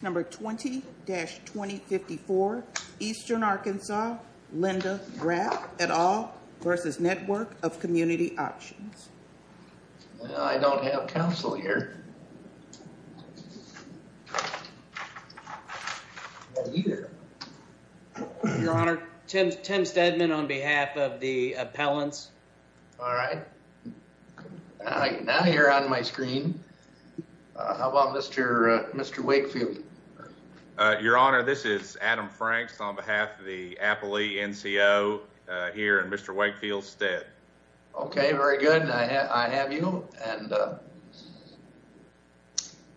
Number 20-2054, Eastern Arkansas, Linda Rapp et al. v. Network of Community Options. I don't have counsel here. Your Honor, Tim Steadman on behalf of the appellants. All right. Now you're on my screen. How about Mr. Wakefield? Your Honor, this is Adam Franks on behalf of the appellee NCO here in Mr. Wakefield's stead. Okay, very good. I have you.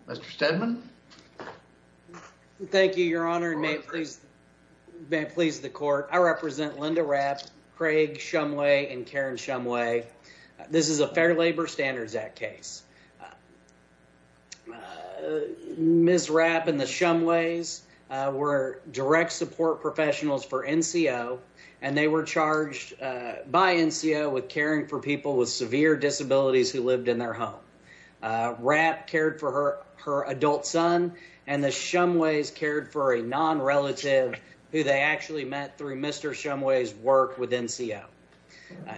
Mr. Steadman? Thank you, Your Honor, and may it please the court. I represent Linda Rapp, Craig Shumway, and Karen Shumway. This is a Fair Labor Standards Act case. Ms. Rapp and the Shumways were direct support professionals for NCO, and they were charged by NCO with caring for people with severe disabilities who lived in their home. Rapp cared for her adult son, and the Shumways cared for a non-relative who they actually met through Mr. Shumway's work with NCO.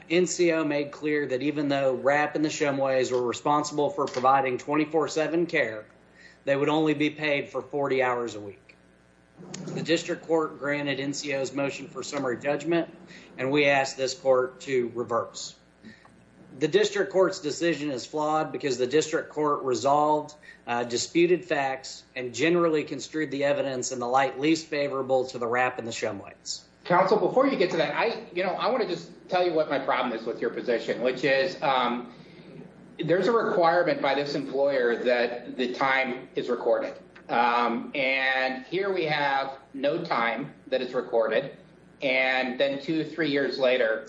NCO made clear that even though Rapp and the Shumways were responsible for providing 24-7 care, they would only be paid for 40 hours a week. The district court granted NCO's motion for summary judgment, and we asked this court to reverse. The district court's decision is flawed because the district court resolved disputed facts and generally construed the evidence in the light least favorable to the Rapp and the Shumways. Counsel, before you get to that, I want to just tell you what my problem is with your position, which is there's a requirement by this employer that the time is recorded. And here we have no time that is recorded, and then two or three years later,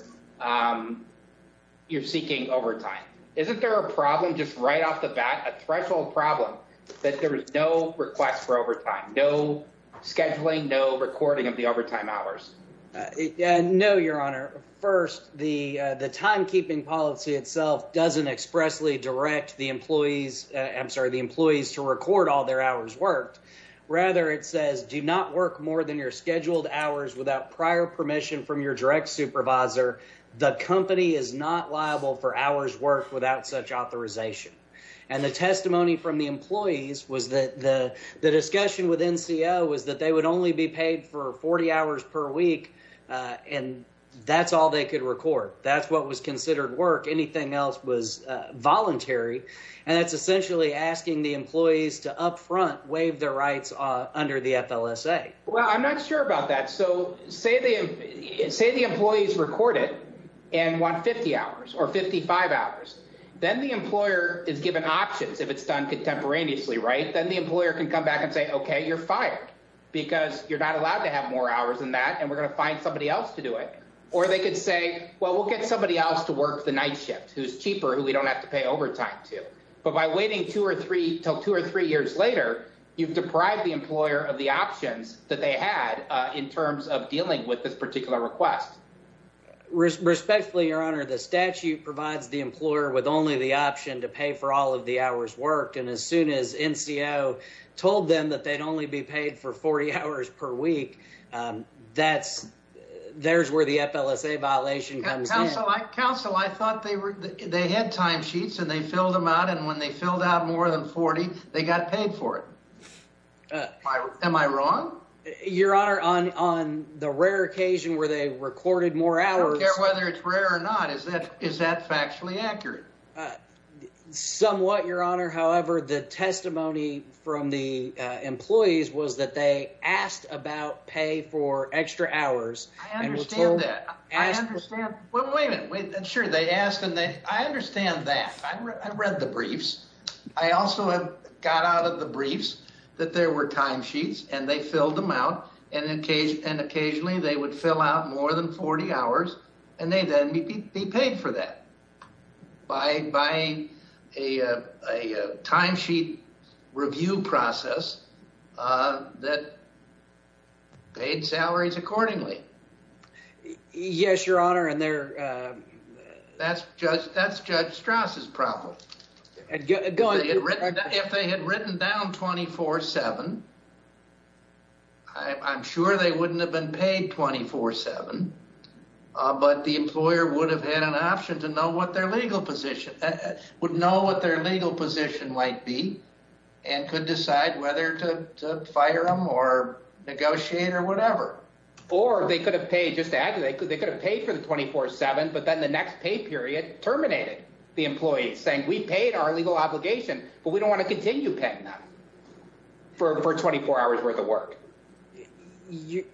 you're seeking overtime. Isn't there a problem just right off the bat, a threshold problem, that there is no request for overtime, no scheduling, no recording of the overtime hours? No, Your Honor. First, the timekeeping policy itself doesn't expressly direct the employees to record all their hours worked. Rather, it says do not work more than your scheduled hours without prior permission from your direct supervisor. The company is not liable for hours worked without such authorization. And the testimony from the employees was that the discussion with NCO was that they would only be paid for 40 hours per week, and that's all they could record. That's what was considered work. Anything else was voluntary, and that's essentially asking the employees to up front waive their rights under the FLSA. Well, I'm not sure about that. So say the employees record it and want 50 hours or 55 hours. Then the employer is given options if it's done contemporaneously, right? Then the employer can come back and say, okay, you're fired because you're not allowed to have more hours than that, and we're going to find somebody else to do it. Or they could say, well, we'll get somebody else to work the night shift who's cheaper, who we don't have to pay overtime to. But by waiting till two or three years later, you've deprived the employer of the options that they had in terms of dealing with this particular request. Respectfully, Your Honor, the statute provides the employer with only the option to pay for all of the hours worked, and as soon as NCO told them that they'd only be paid for 40 hours per week, there's where the FLSA violation comes in. Counsel, I thought they had timesheets and they filled them out, and when they filled out more than 40, they got paid for it. Am I wrong? Your Honor, on the rare occasion where they recorded more hours. I don't care whether it's rare or not. Is that factually accurate? Somewhat, Your Honor. However, the testimony from the employees was that they asked about pay for extra hours. I understand that. Wait a minute. Sure, they asked, and I understand that. I read the briefs. I also got out of the briefs that there were timesheets, and they filled them out, and occasionally they would fill out more than 40 hours, and they'd then be paid for that by a timesheet review process that paid salaries accordingly. Yes, Your Honor. That's Judge Strauss' problem. Go ahead. If they had written down 24-7, I'm sure they wouldn't have been paid 24-7, but the employer would have had an option to know what their legal position might be and could decide whether to fire them or negotiate or whatever. Or they could have paid, just to add to that, they could have paid for the 24-7, but then the next pay period terminated the employees, saying we paid our legal obligation, but we don't want to continue paying them for 24 hours' worth of work.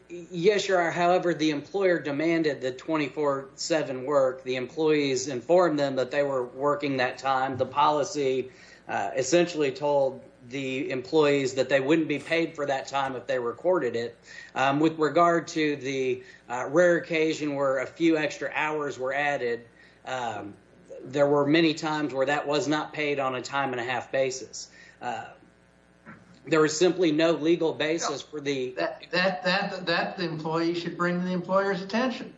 Yes, Your Honor. However, the employer demanded the 24-7 work. The employees informed them that they were working that time. The policy essentially told the employees that they wouldn't be paid for that time if they recorded it. With regard to the rare occasion where a few extra hours were added, there were many times where that was not paid on a time-and-a-half basis. There was simply no legal basis for the— That the employee should bring to the employer's attention.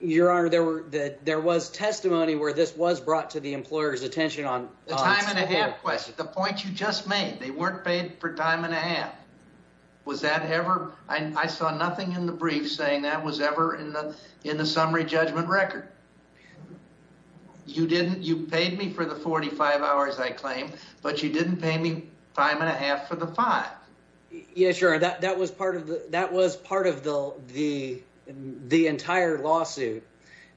Your Honor, there was testimony where this was brought to the employer's attention on— The point you just made, they weren't paid for time-and-a-half. Was that ever—I saw nothing in the brief saying that was ever in the summary judgment record. You paid me for the 45 hours, I claim, but you didn't pay me time-and-a-half for the five. Yes, Your Honor, that was part of the entire lawsuit.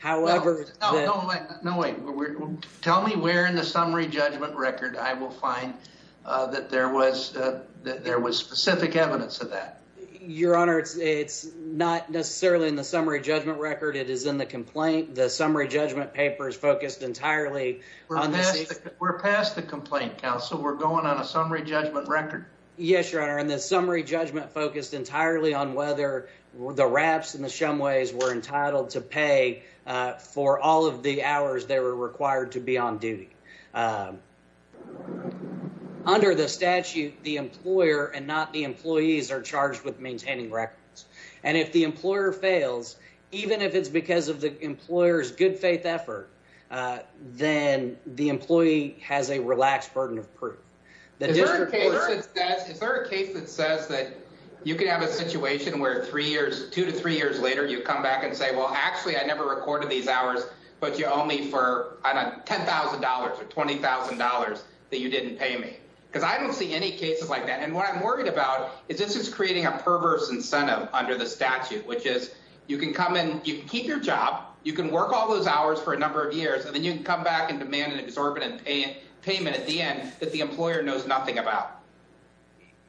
Tell me where in the summary judgment record I will find that there was specific evidence of that. Your Honor, it's not necessarily in the summary judgment record. It is in the complaint. The summary judgment paper is focused entirely on— We're past the complaint, counsel. We're going on a summary judgment record. Yes, Your Honor, and the summary judgment focused entirely on whether the raps and the shumways were entitled to pay for all of the hours they were required to be on duty. Under the statute, the employer and not the employees are charged with maintaining records. And if the employer fails, even if it's because of the employer's good-faith effort, then the employee has a relaxed burden of proof. Is there a case that says that you can have a situation where two to three years later you come back and say, Well, actually, I never recorded these hours, but you owe me $10,000 or $20,000 that you didn't pay me? Because I don't see any cases like that. And what I'm worried about is this is creating a perverse incentive under the statute, which is you can come in, you can keep your job, you can work all those hours for a number of years, and then you can come back and demand an exorbitant payment at the end that the employer knows nothing about.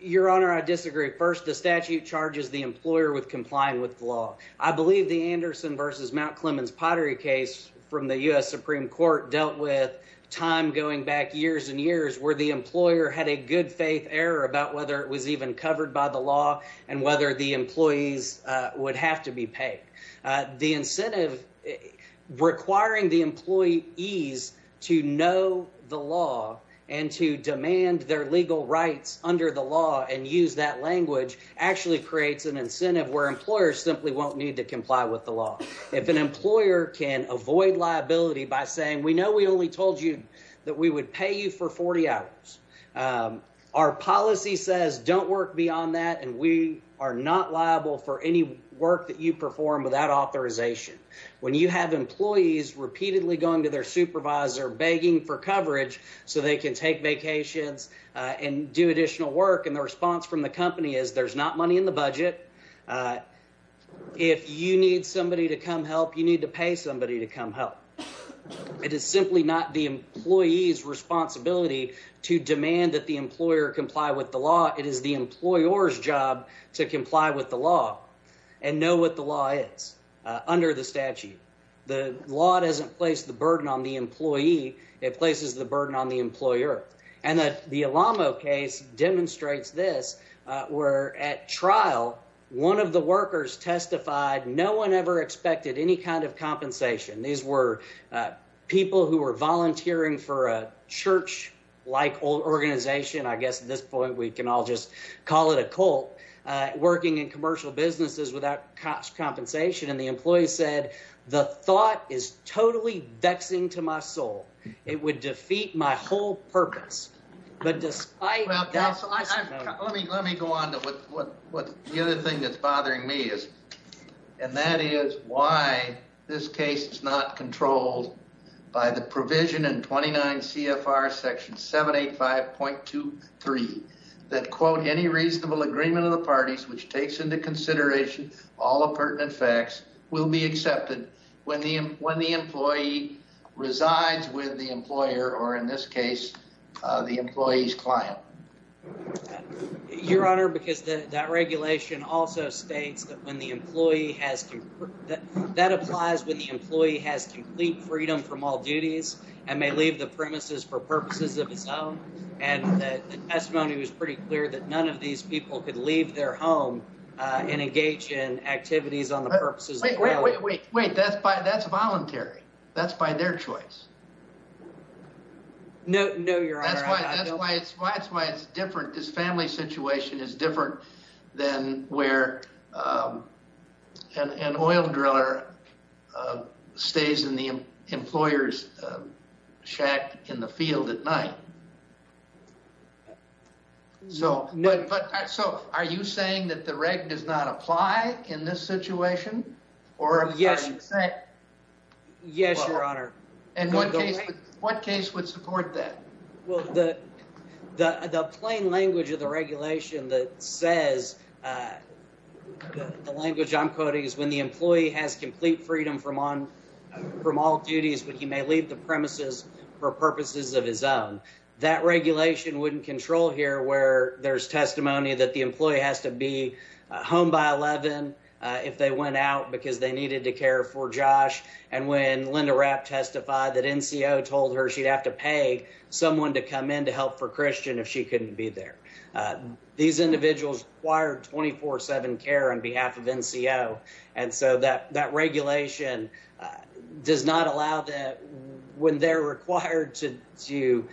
Your Honor, I disagree. First, the statute charges the employer with complying with the law. I believe the Anderson versus Mount Clemens Pottery case from the U.S. Supreme Court dealt with time going back years and years where the employer had a good-faith error about whether it was even covered by the law and whether the employees would have to be paid. The incentive requiring the employees to know the law and to demand their legal rights under the law and use that language actually creates an incentive where employers simply won't need to comply with the law. If an employer can avoid liability by saying, We know we only told you that we would pay you for 40 hours. Our policy says don't work beyond that, and we are not liable for any work that you perform without authorization. When you have employees repeatedly going to their supervisor begging for coverage so they can take vacations and do additional work, and the response from the company is there's not money in the budget. If you need somebody to come help, you need to pay somebody to come help. It is simply not the employee's responsibility to demand that the employer comply with the law. It is the employer's job to comply with the law and know what the law is under the statute. The law doesn't place the burden on the employee. And the case demonstrates this. We're at trial. One of the workers testified. No one ever expected any kind of compensation. These were people who were volunteering for a church like organization. I guess at this point, we can all just call it a cult working in commercial businesses without cost compensation. And the employee said the thought is totally vexing to my soul. It would defeat my whole purpose. But despite... Let me go on to what the other thing that's bothering me is. And that is why this case is not controlled by the provision in 29 CFR section 785.23. That, quote, any reasonable agreement of the parties which takes into consideration all the pertinent facts will be accepted when the employee resides with the employer or, in this case, the employee's client. Your Honor, because that regulation also states that when the employee has... That applies when the employee has complete freedom from all duties and may leave the premises for purposes of his own. And the testimony was pretty clear that none of these people could leave their home and engage in activities on the purposes of their own. Wait, wait, wait. That's voluntary. That's by their choice. No, Your Honor. That's why it's different. This family situation is different than where an oil driller stays in the employer's shack in the field at night. So are you saying that the reg does not apply in this situation? Yes, Your Honor. And what case would support that? Well, the plain language of the regulation that says the language I'm quoting is when the employee has complete freedom from all duties but he may leave the premises for purposes of his own. That regulation wouldn't control here where there's testimony that the employee has to be home by 11 if they went out because they needed to care for Josh. And when Linda Rapp testified that NCO told her she'd have to pay someone to come in to help for Christian if she couldn't be there. These individuals required 24-7 care on behalf of NCO. And so that that regulation does not allow that when they're required to do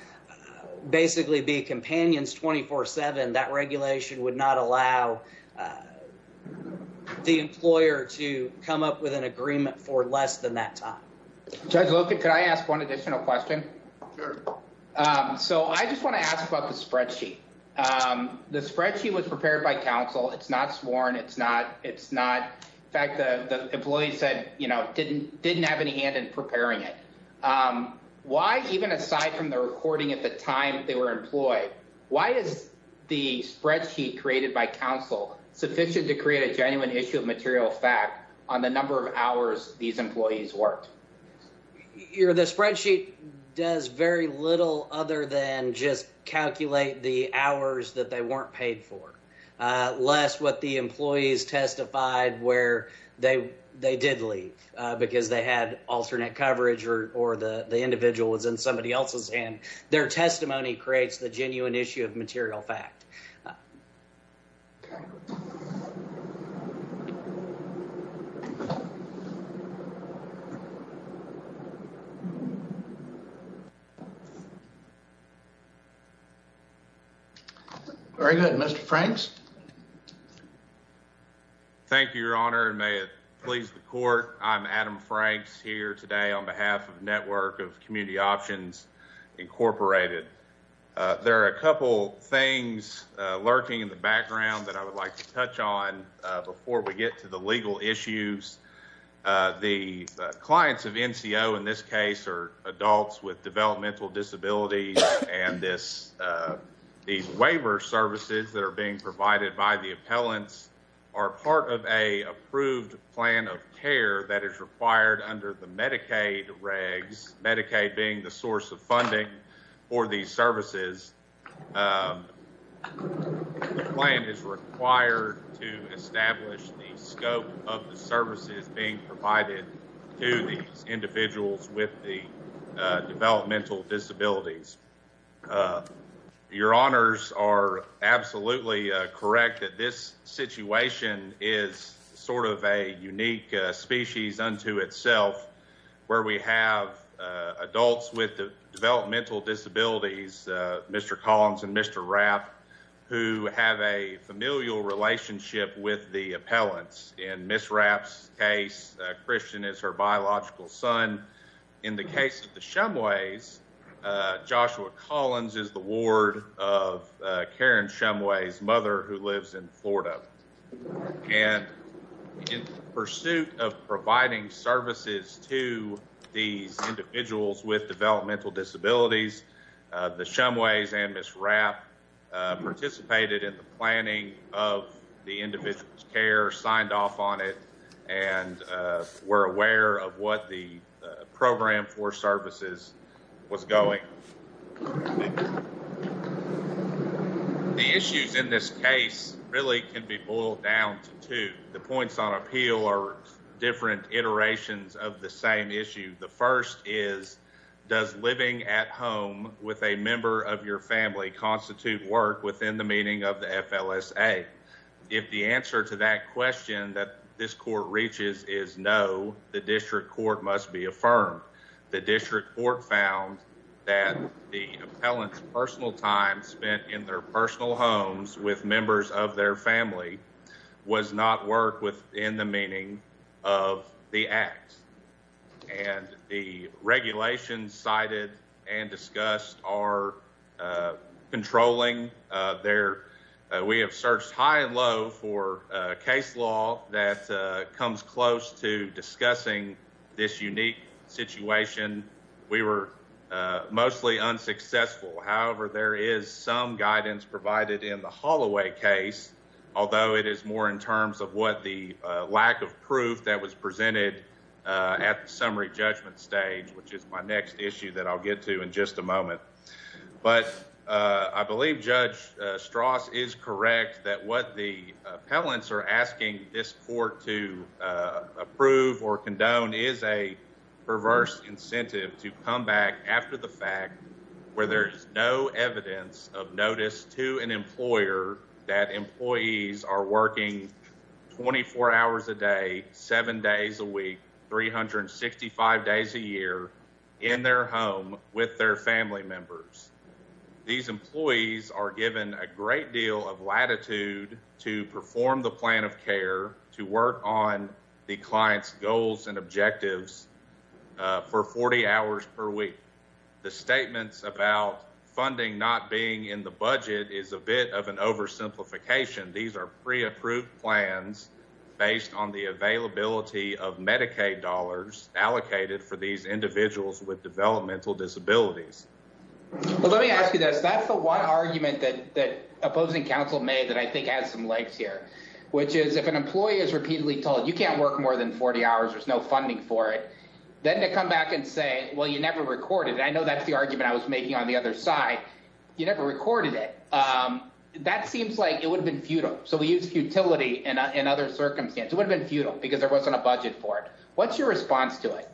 basically be companions 24-7. That regulation would not allow the employer to come up with an agreement for less than that time. Look, could I ask one additional question? So I just want to ask about the spreadsheet. The spreadsheet was prepared by counsel. It's not sworn. It's not. It's not. In fact, the employees said, you know, didn't didn't have any hand in preparing it. Why, even aside from the recording at the time they were employed, why is the spreadsheet created by counsel sufficient to create a genuine issue of material fact on the number of hours these employees worked? The spreadsheet does very little other than just calculate the hours that they weren't paid for, less what the employees testified where they they did leave because they had alternate coverage or the individual was in somebody else's hand. Their testimony creates the genuine issue of material fact. Very good. Mr. Franks. Thank you, Your Honor. And may it please the court. I'm Adam Franks here today on behalf of Network of Community Options Incorporated. There are a couple things lurking in the background that I would like to touch on before we get to the legal issues. The clients of NCO in this case are adults with developmental disabilities. And this waiver services that are being provided by the appellants are part of a approved plan of care that is required under the Medicaid regs, Medicaid being the source of funding for these services. The plan is required to establish the scope of the services being provided to these individuals with the developmental disabilities. Your honors are absolutely correct that this situation is sort of a unique species unto itself where we have adults with developmental disabilities. Mr. Collins and Mr. Rapp, who have a familial relationship with the appellants in Ms. Rapp's case, Christian is her biological son. In the case of the Shumways, Joshua Collins is the ward of Karen Shumway's mother who lives in Florida. And in pursuit of providing services to these individuals with developmental disabilities, the Shumways and Ms. Rapp participated in the planning of the individual's care, signed off on it, and were aware of what the program for services was going. The issues in this case really can be boiled down to two. The points on appeal are different iterations of the same issue. The first is, does living at home with a member of your family constitute work within the meaning of the FLSA? If the answer to that question that this court reaches is no, the district court must be affirmed. The district court found that the appellant's personal time spent in their personal homes with members of their family was not work within the meaning of the act. And the regulations cited and discussed are controlling. We have searched high and low for a case law that comes close to discussing this unique situation. We were mostly unsuccessful. However, there is some guidance provided in the Holloway case, although it is more in terms of what the lack of proof that was presented at the summary judgment stage, which is my next issue that I'll get to in just a moment. But I believe Judge Strauss is correct that what the appellants are asking this court to approve or condone is a perverse incentive to come back after the fact where there is no evidence of notice to an employer that employees are working 24 hours a day, 7 days a week, 365 days a year in their home with their family members. These employees are given a great deal of latitude to perform the plan of care, to work on the client's goals and objectives for 40 hours per week. The statements about funding not being in the budget is a bit of an oversimplification. These are pre-approved plans based on the availability of Medicaid dollars allocated for these individuals with developmental disabilities. Let me ask you this. That's the one argument that opposing counsel made that I think has some legs here, which is if an employee is repeatedly told you can't work more than 40 hours, there's no funding for it, then to come back and say, well, you never recorded it. I know that's the argument I was making on the other side. You never recorded it. That seems like it would have been futile. So we use futility in other circumstances. It would have been futile because there wasn't a budget for it. What's your response to it?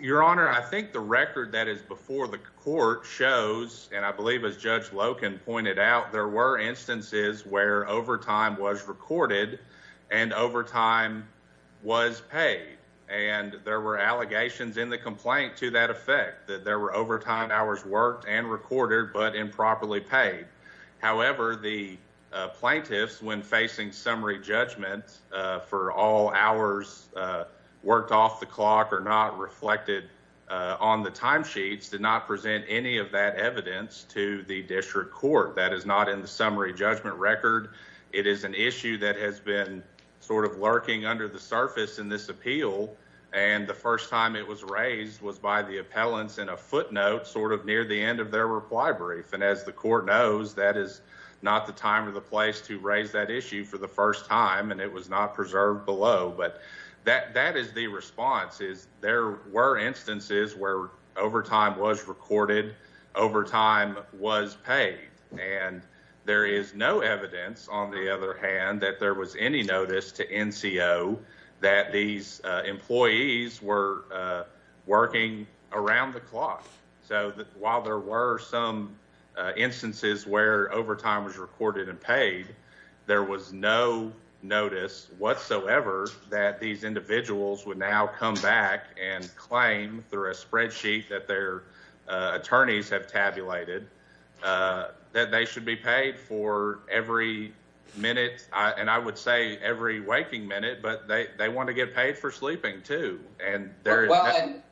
Your Honor, I think the record that is before the court shows, and I believe as Judge Loken pointed out, there were instances where overtime was recorded and overtime was paid. And there were allegations in the complaint to that effect, that there were overtime hours worked and recorded but improperly paid. However, the plaintiffs, when facing summary judgment for all hours worked off the clock or not reflected on the timesheets, did not present any of that evidence to the district court. That is not in the summary judgment record. It is an issue that has been sort of lurking under the surface in this appeal, and the first time it was raised was by the appellants in a footnote sort of near the end of their reply brief. And as the court knows, that is not the time or the place to raise that issue for the first time, and it was not preserved below. But that is the response. There were instances where overtime was recorded, overtime was paid. And there is no evidence, on the other hand, that there was any notice to NCO that these employees were working around the clock. So while there were some instances where overtime was recorded and paid, there was no notice whatsoever that these individuals would now come back and claim through a spreadsheet that their attorneys have tabulated that they should be paid for every minute. And I would say every waking minute, but they want to get paid for sleeping too. Well,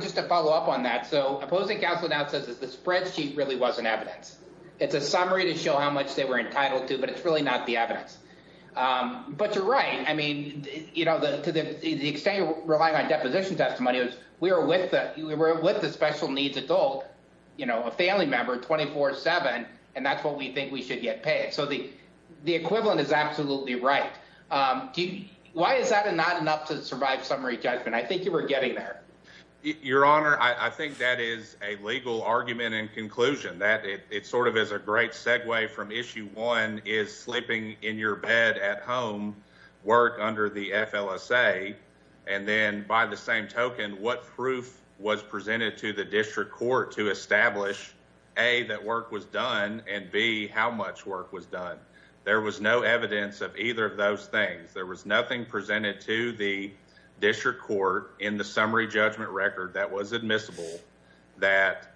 just to follow up on that, so opposing counsel now says that the spreadsheet really wasn't evidence. It's a summary to show how much they were entitled to, but it's really not the evidence. But you're right. I mean, you know, to the extent you're relying on deposition testimonials, we were with the special needs adult, you know, a family member 24-7, and that's what we think we should get paid. So the equivalent is absolutely right. Why is that not enough to survive summary judgment? I think you were getting there. Your Honor, I think that is a legal argument in conclusion that it sort of is a great segue from issue one is sleeping in your bed at home work under the FLSA. And then by the same token, what proof was presented to the district court to establish, A, that work was done and B, how much work was done? There was no evidence of either of those things. There was nothing presented to the district court in the summary judgment record that was admissible that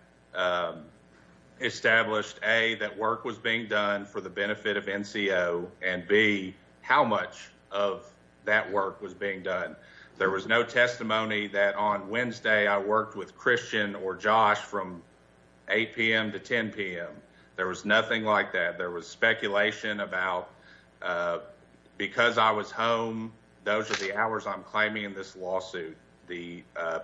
established, A, that work was being done for the benefit of NCO and B, how much of that work was being done? There was no testimony that on Wednesday I worked with Christian or Josh from 8 p.m. to 10 p.m. There was nothing like that. There was speculation about because I was home, those are the hours I'm claiming in this lawsuit. The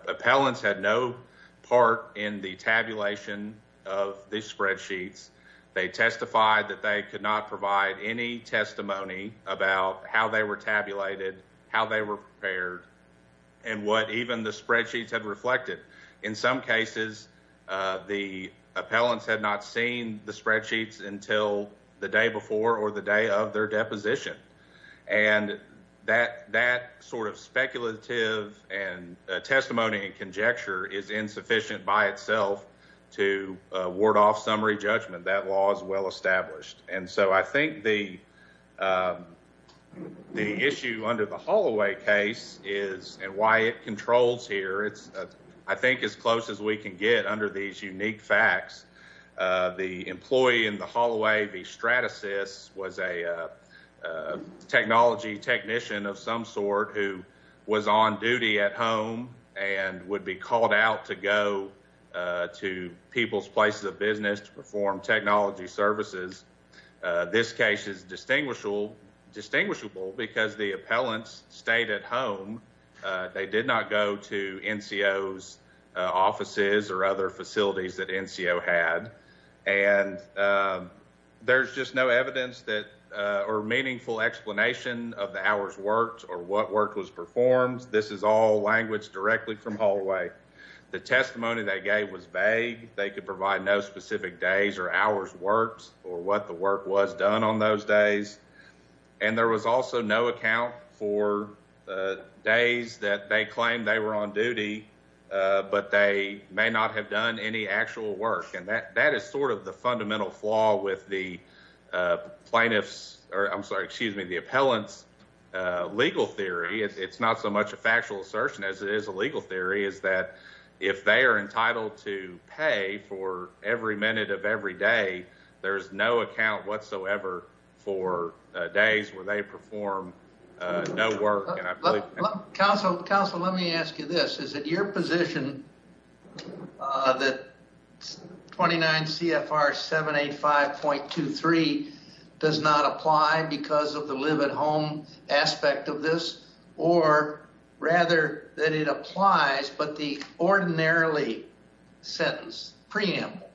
appellants had no part in the tabulation of these spreadsheets. They testified that they could not provide any testimony about how they were tabulated, how they were prepared, and what even the spreadsheets had reflected. In some cases, the appellants had not seen the spreadsheets until the day before or the day of their deposition. And that sort of speculative and testimony and conjecture is insufficient by itself to ward off summary judgment. That law is well established. And so I think the issue under the Holloway case is and why it controls here, it's I think as close as we can get under these unique facts. The employee in the Holloway, the Stratasys, was a technology technician of some sort who was on duty at home and would be called out to go to people's places of business to perform technology services. This case is distinguishable because the appellants stayed at home. They did not go to NCO's offices or other facilities that NCO had. And there's just no evidence that or meaningful explanation of the hours worked or what work was performed. This is all language directly from Holloway. The testimony they gave was vague. They could provide no specific days or hours worked or what the work was done on those days. And there was also no account for days that they claimed they were on duty, but they may not have done any actual work. And that is sort of the fundamental flaw with the plaintiff's or I'm sorry, excuse me, the appellant's legal theory. It's not so much a factual assertion as it is a legal theory is that if they are entitled to pay for every minute of every day, there is no account whatsoever for days where they perform no work. Council, let me ask you this. Is it your position that 29 CFR 785.23 does not apply because of the live at home aspect of this? Or rather that it applies, but the ordinarily sentence preamble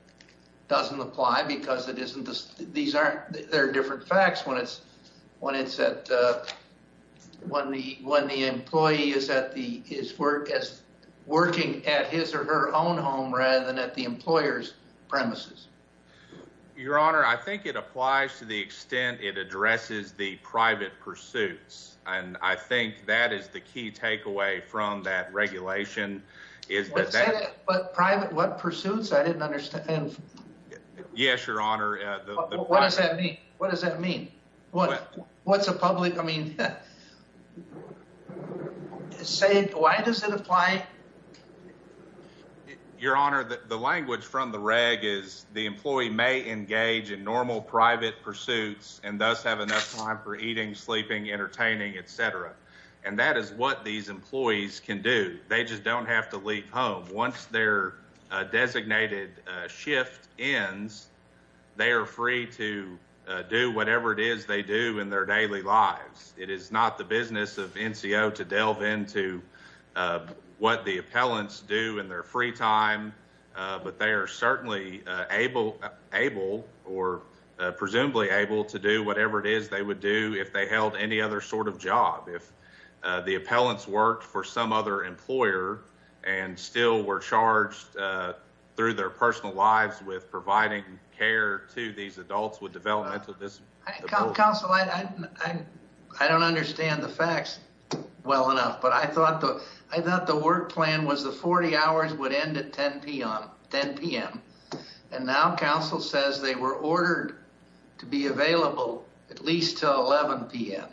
doesn't apply because it isn't. These aren't there are different facts when it's when it's at when the when the employee is at the his work as working at his or her own home rather than at the employer's premises. Your Honor, I think it applies to the extent it addresses the private pursuits. And I think that is the key takeaway from that regulation is that private pursuits. I didn't understand. Yes, Your Honor. What does that mean? What does that mean? What what's a public? I mean, say, why does it apply? Your Honor, the language from the reg is the employee may engage in normal private pursuits and thus have enough time for eating, sleeping, entertaining, etc. And that is what these employees can do. They just don't have to leave home once their designated shift ends. They are free to do whatever it is they do in their daily lives. It is not the business of NCO to delve into what the appellants do in their free time. But they are certainly able, able or presumably able to do whatever it is they would do if they held any other sort of job. If the appellants worked for some other employer and still were charged through their personal lives with providing care to these adults with developmental disabilities. Counsel, I don't understand the facts well enough. But I thought I thought the work plan was the 40 hours would end at 10 p.m. And now counsel says they were ordered to be available at least till 11 p.m.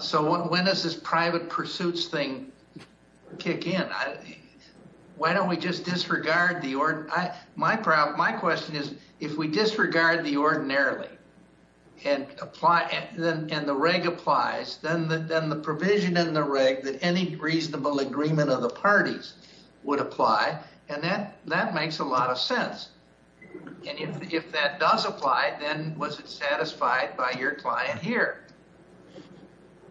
So when does this private pursuits thing kick in? Why don't we just disregard the order? My question is if we disregard the ordinarily and apply and the reg applies, then the provision in the reg that any reasonable agreement of the parties would apply. And then that makes a lot of sense. If that does apply, then was it satisfied by your client here?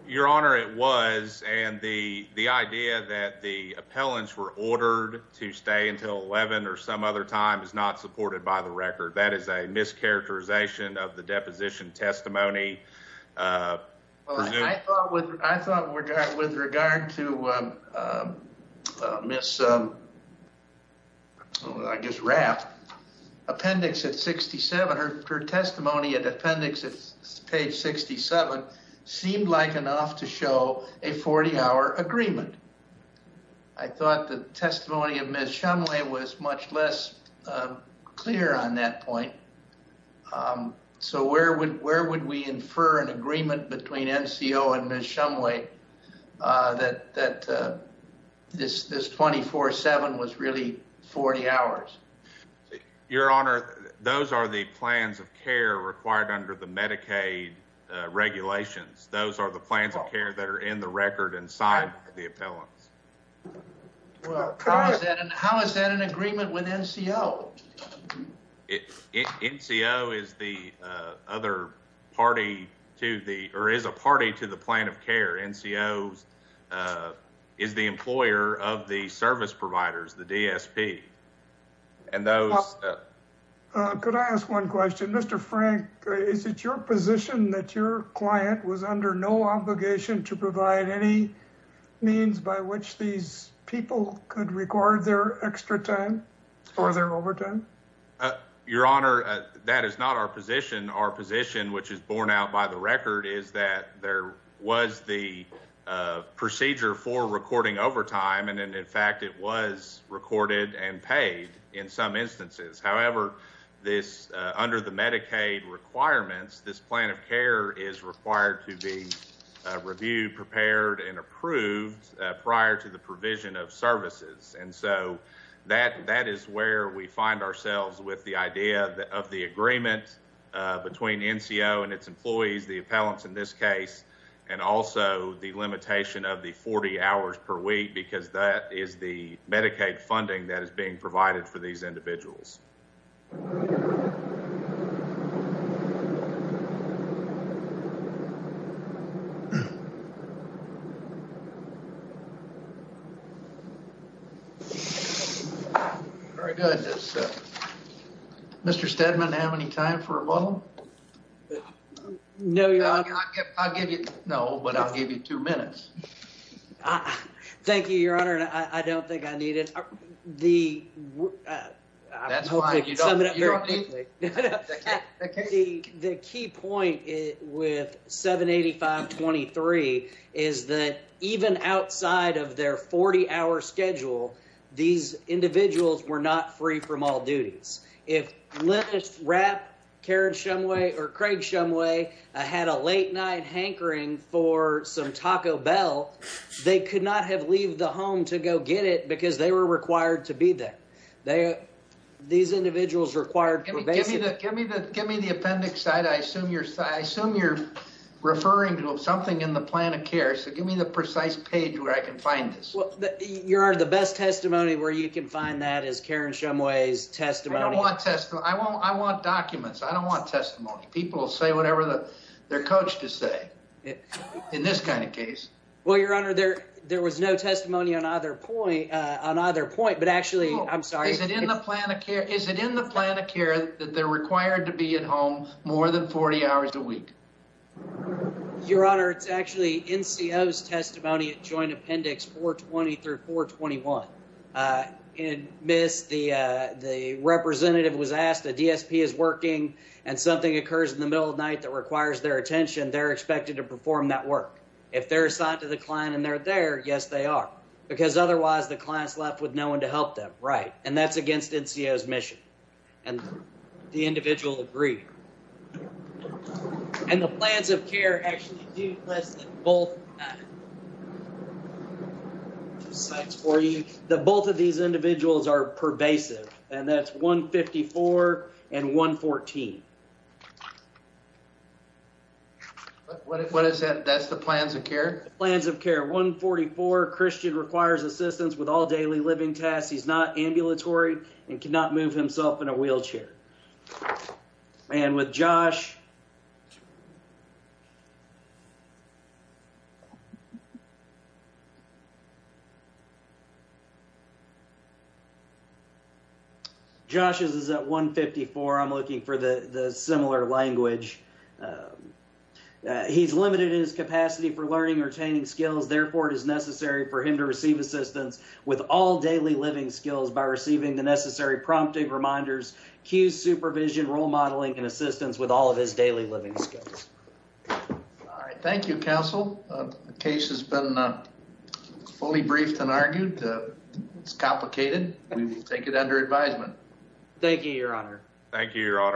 Your Honor, it was. And the the idea that the appellants were ordered to stay until 11 or some other time is not supported by the record. That is a mischaracterization of the deposition testimony. Well, I thought with I thought with regard with regard to Miss. I guess Rapp appendix at 67, her testimony at appendix page 67 seemed like enough to show a 40 hour agreement. I thought the testimony of Ms. Shumway was much less clear on that point. So where would where would we infer an agreement between NCO and Ms. Shumway that that this this 24 seven was really 40 hours? Your Honor, those are the plans of care required under the Medicaid regulations. Those are the plans of care that are in the record inside the appellants. Well, how is that? And how is that an agreement with NCO? NCO is the other party to the or is a party to the plan of care. NCO is the employer of the service providers, the DSP. Could I ask one question, Mr. Frank? Is it your position that your client was under no obligation to provide any means by which these people could record their extra time or their overtime? Your Honor, that is not our position. Our position, which is borne out by the record, is that there was the procedure for recording overtime. And in fact, it was recorded and paid in some instances. However, this under the Medicaid requirements, this plan of care is required to be reviewed, prepared and approved prior to the provision of services. And so that that is where we find ourselves with the idea of the agreement between NCO and its employees, the appellants in this case, and also the limitation of the 40 hours per week, because that is the Medicaid funding that is being provided for these individuals. Very good. Mr. Steadman, have any time for a moment? No, I'll give you no, but I'll give you two minutes. Thank you, Your Honor. And I don't think I need it. The key point with 785.23 is that even outside of their 40 hour schedule, these individuals were not free from all duties. If Linus Rapp, Karen Shumway or Craig Shumway had a late night hankering for some Taco Bell, they could not have leaved the home to go get it because they were required to be there. These individuals required... Give me the appendix, I assume you're referring to something in the plan of care. So give me the precise page where I can find this. Your Honor, the best testimony where you can find that is Karen Shumway's testimony. I want documents. I don't want testimony. People will say whatever their coach has to say in this kind of case. Well, Your Honor, there was no testimony on either point, but actually... Is it in the plan of care that they're required to be at home more than 40 hours a week? Your Honor, it's actually NCO's testimony at Joint Appendix 420 through 421. Miss, the representative was asked, the DSP is working and something occurs in the middle of night that requires their attention. They're expected to perform that work. If they're assigned to the client and they're there, yes, they are. Because otherwise, the client's left with no one to help them. Right. And that's against NCO's mission. And the individual agreed. And the plans of care actually do less than both. The both of these individuals are pervasive. And that's 154 and 114. What is that? That's the plans of care? Plans of care. 144, Christian requires assistance with all daily living tasks. He's not ambulatory and cannot move himself in a wheelchair. And with Josh... Josh's is at 154. I'm looking for the similar language. He's limited in his capacity for learning or obtaining skills. Therefore, it is necessary for him to receive assistance with all daily living skills by receiving the necessary prompting reminders, cue supervision, role modeling, and assistance with all of his daily living skills. All right. Thank you, Counsel. The case has been fully briefed and argued. It's complicated. We will take it under advisement. Thank you, Your Honor. Thank you, Your Honor.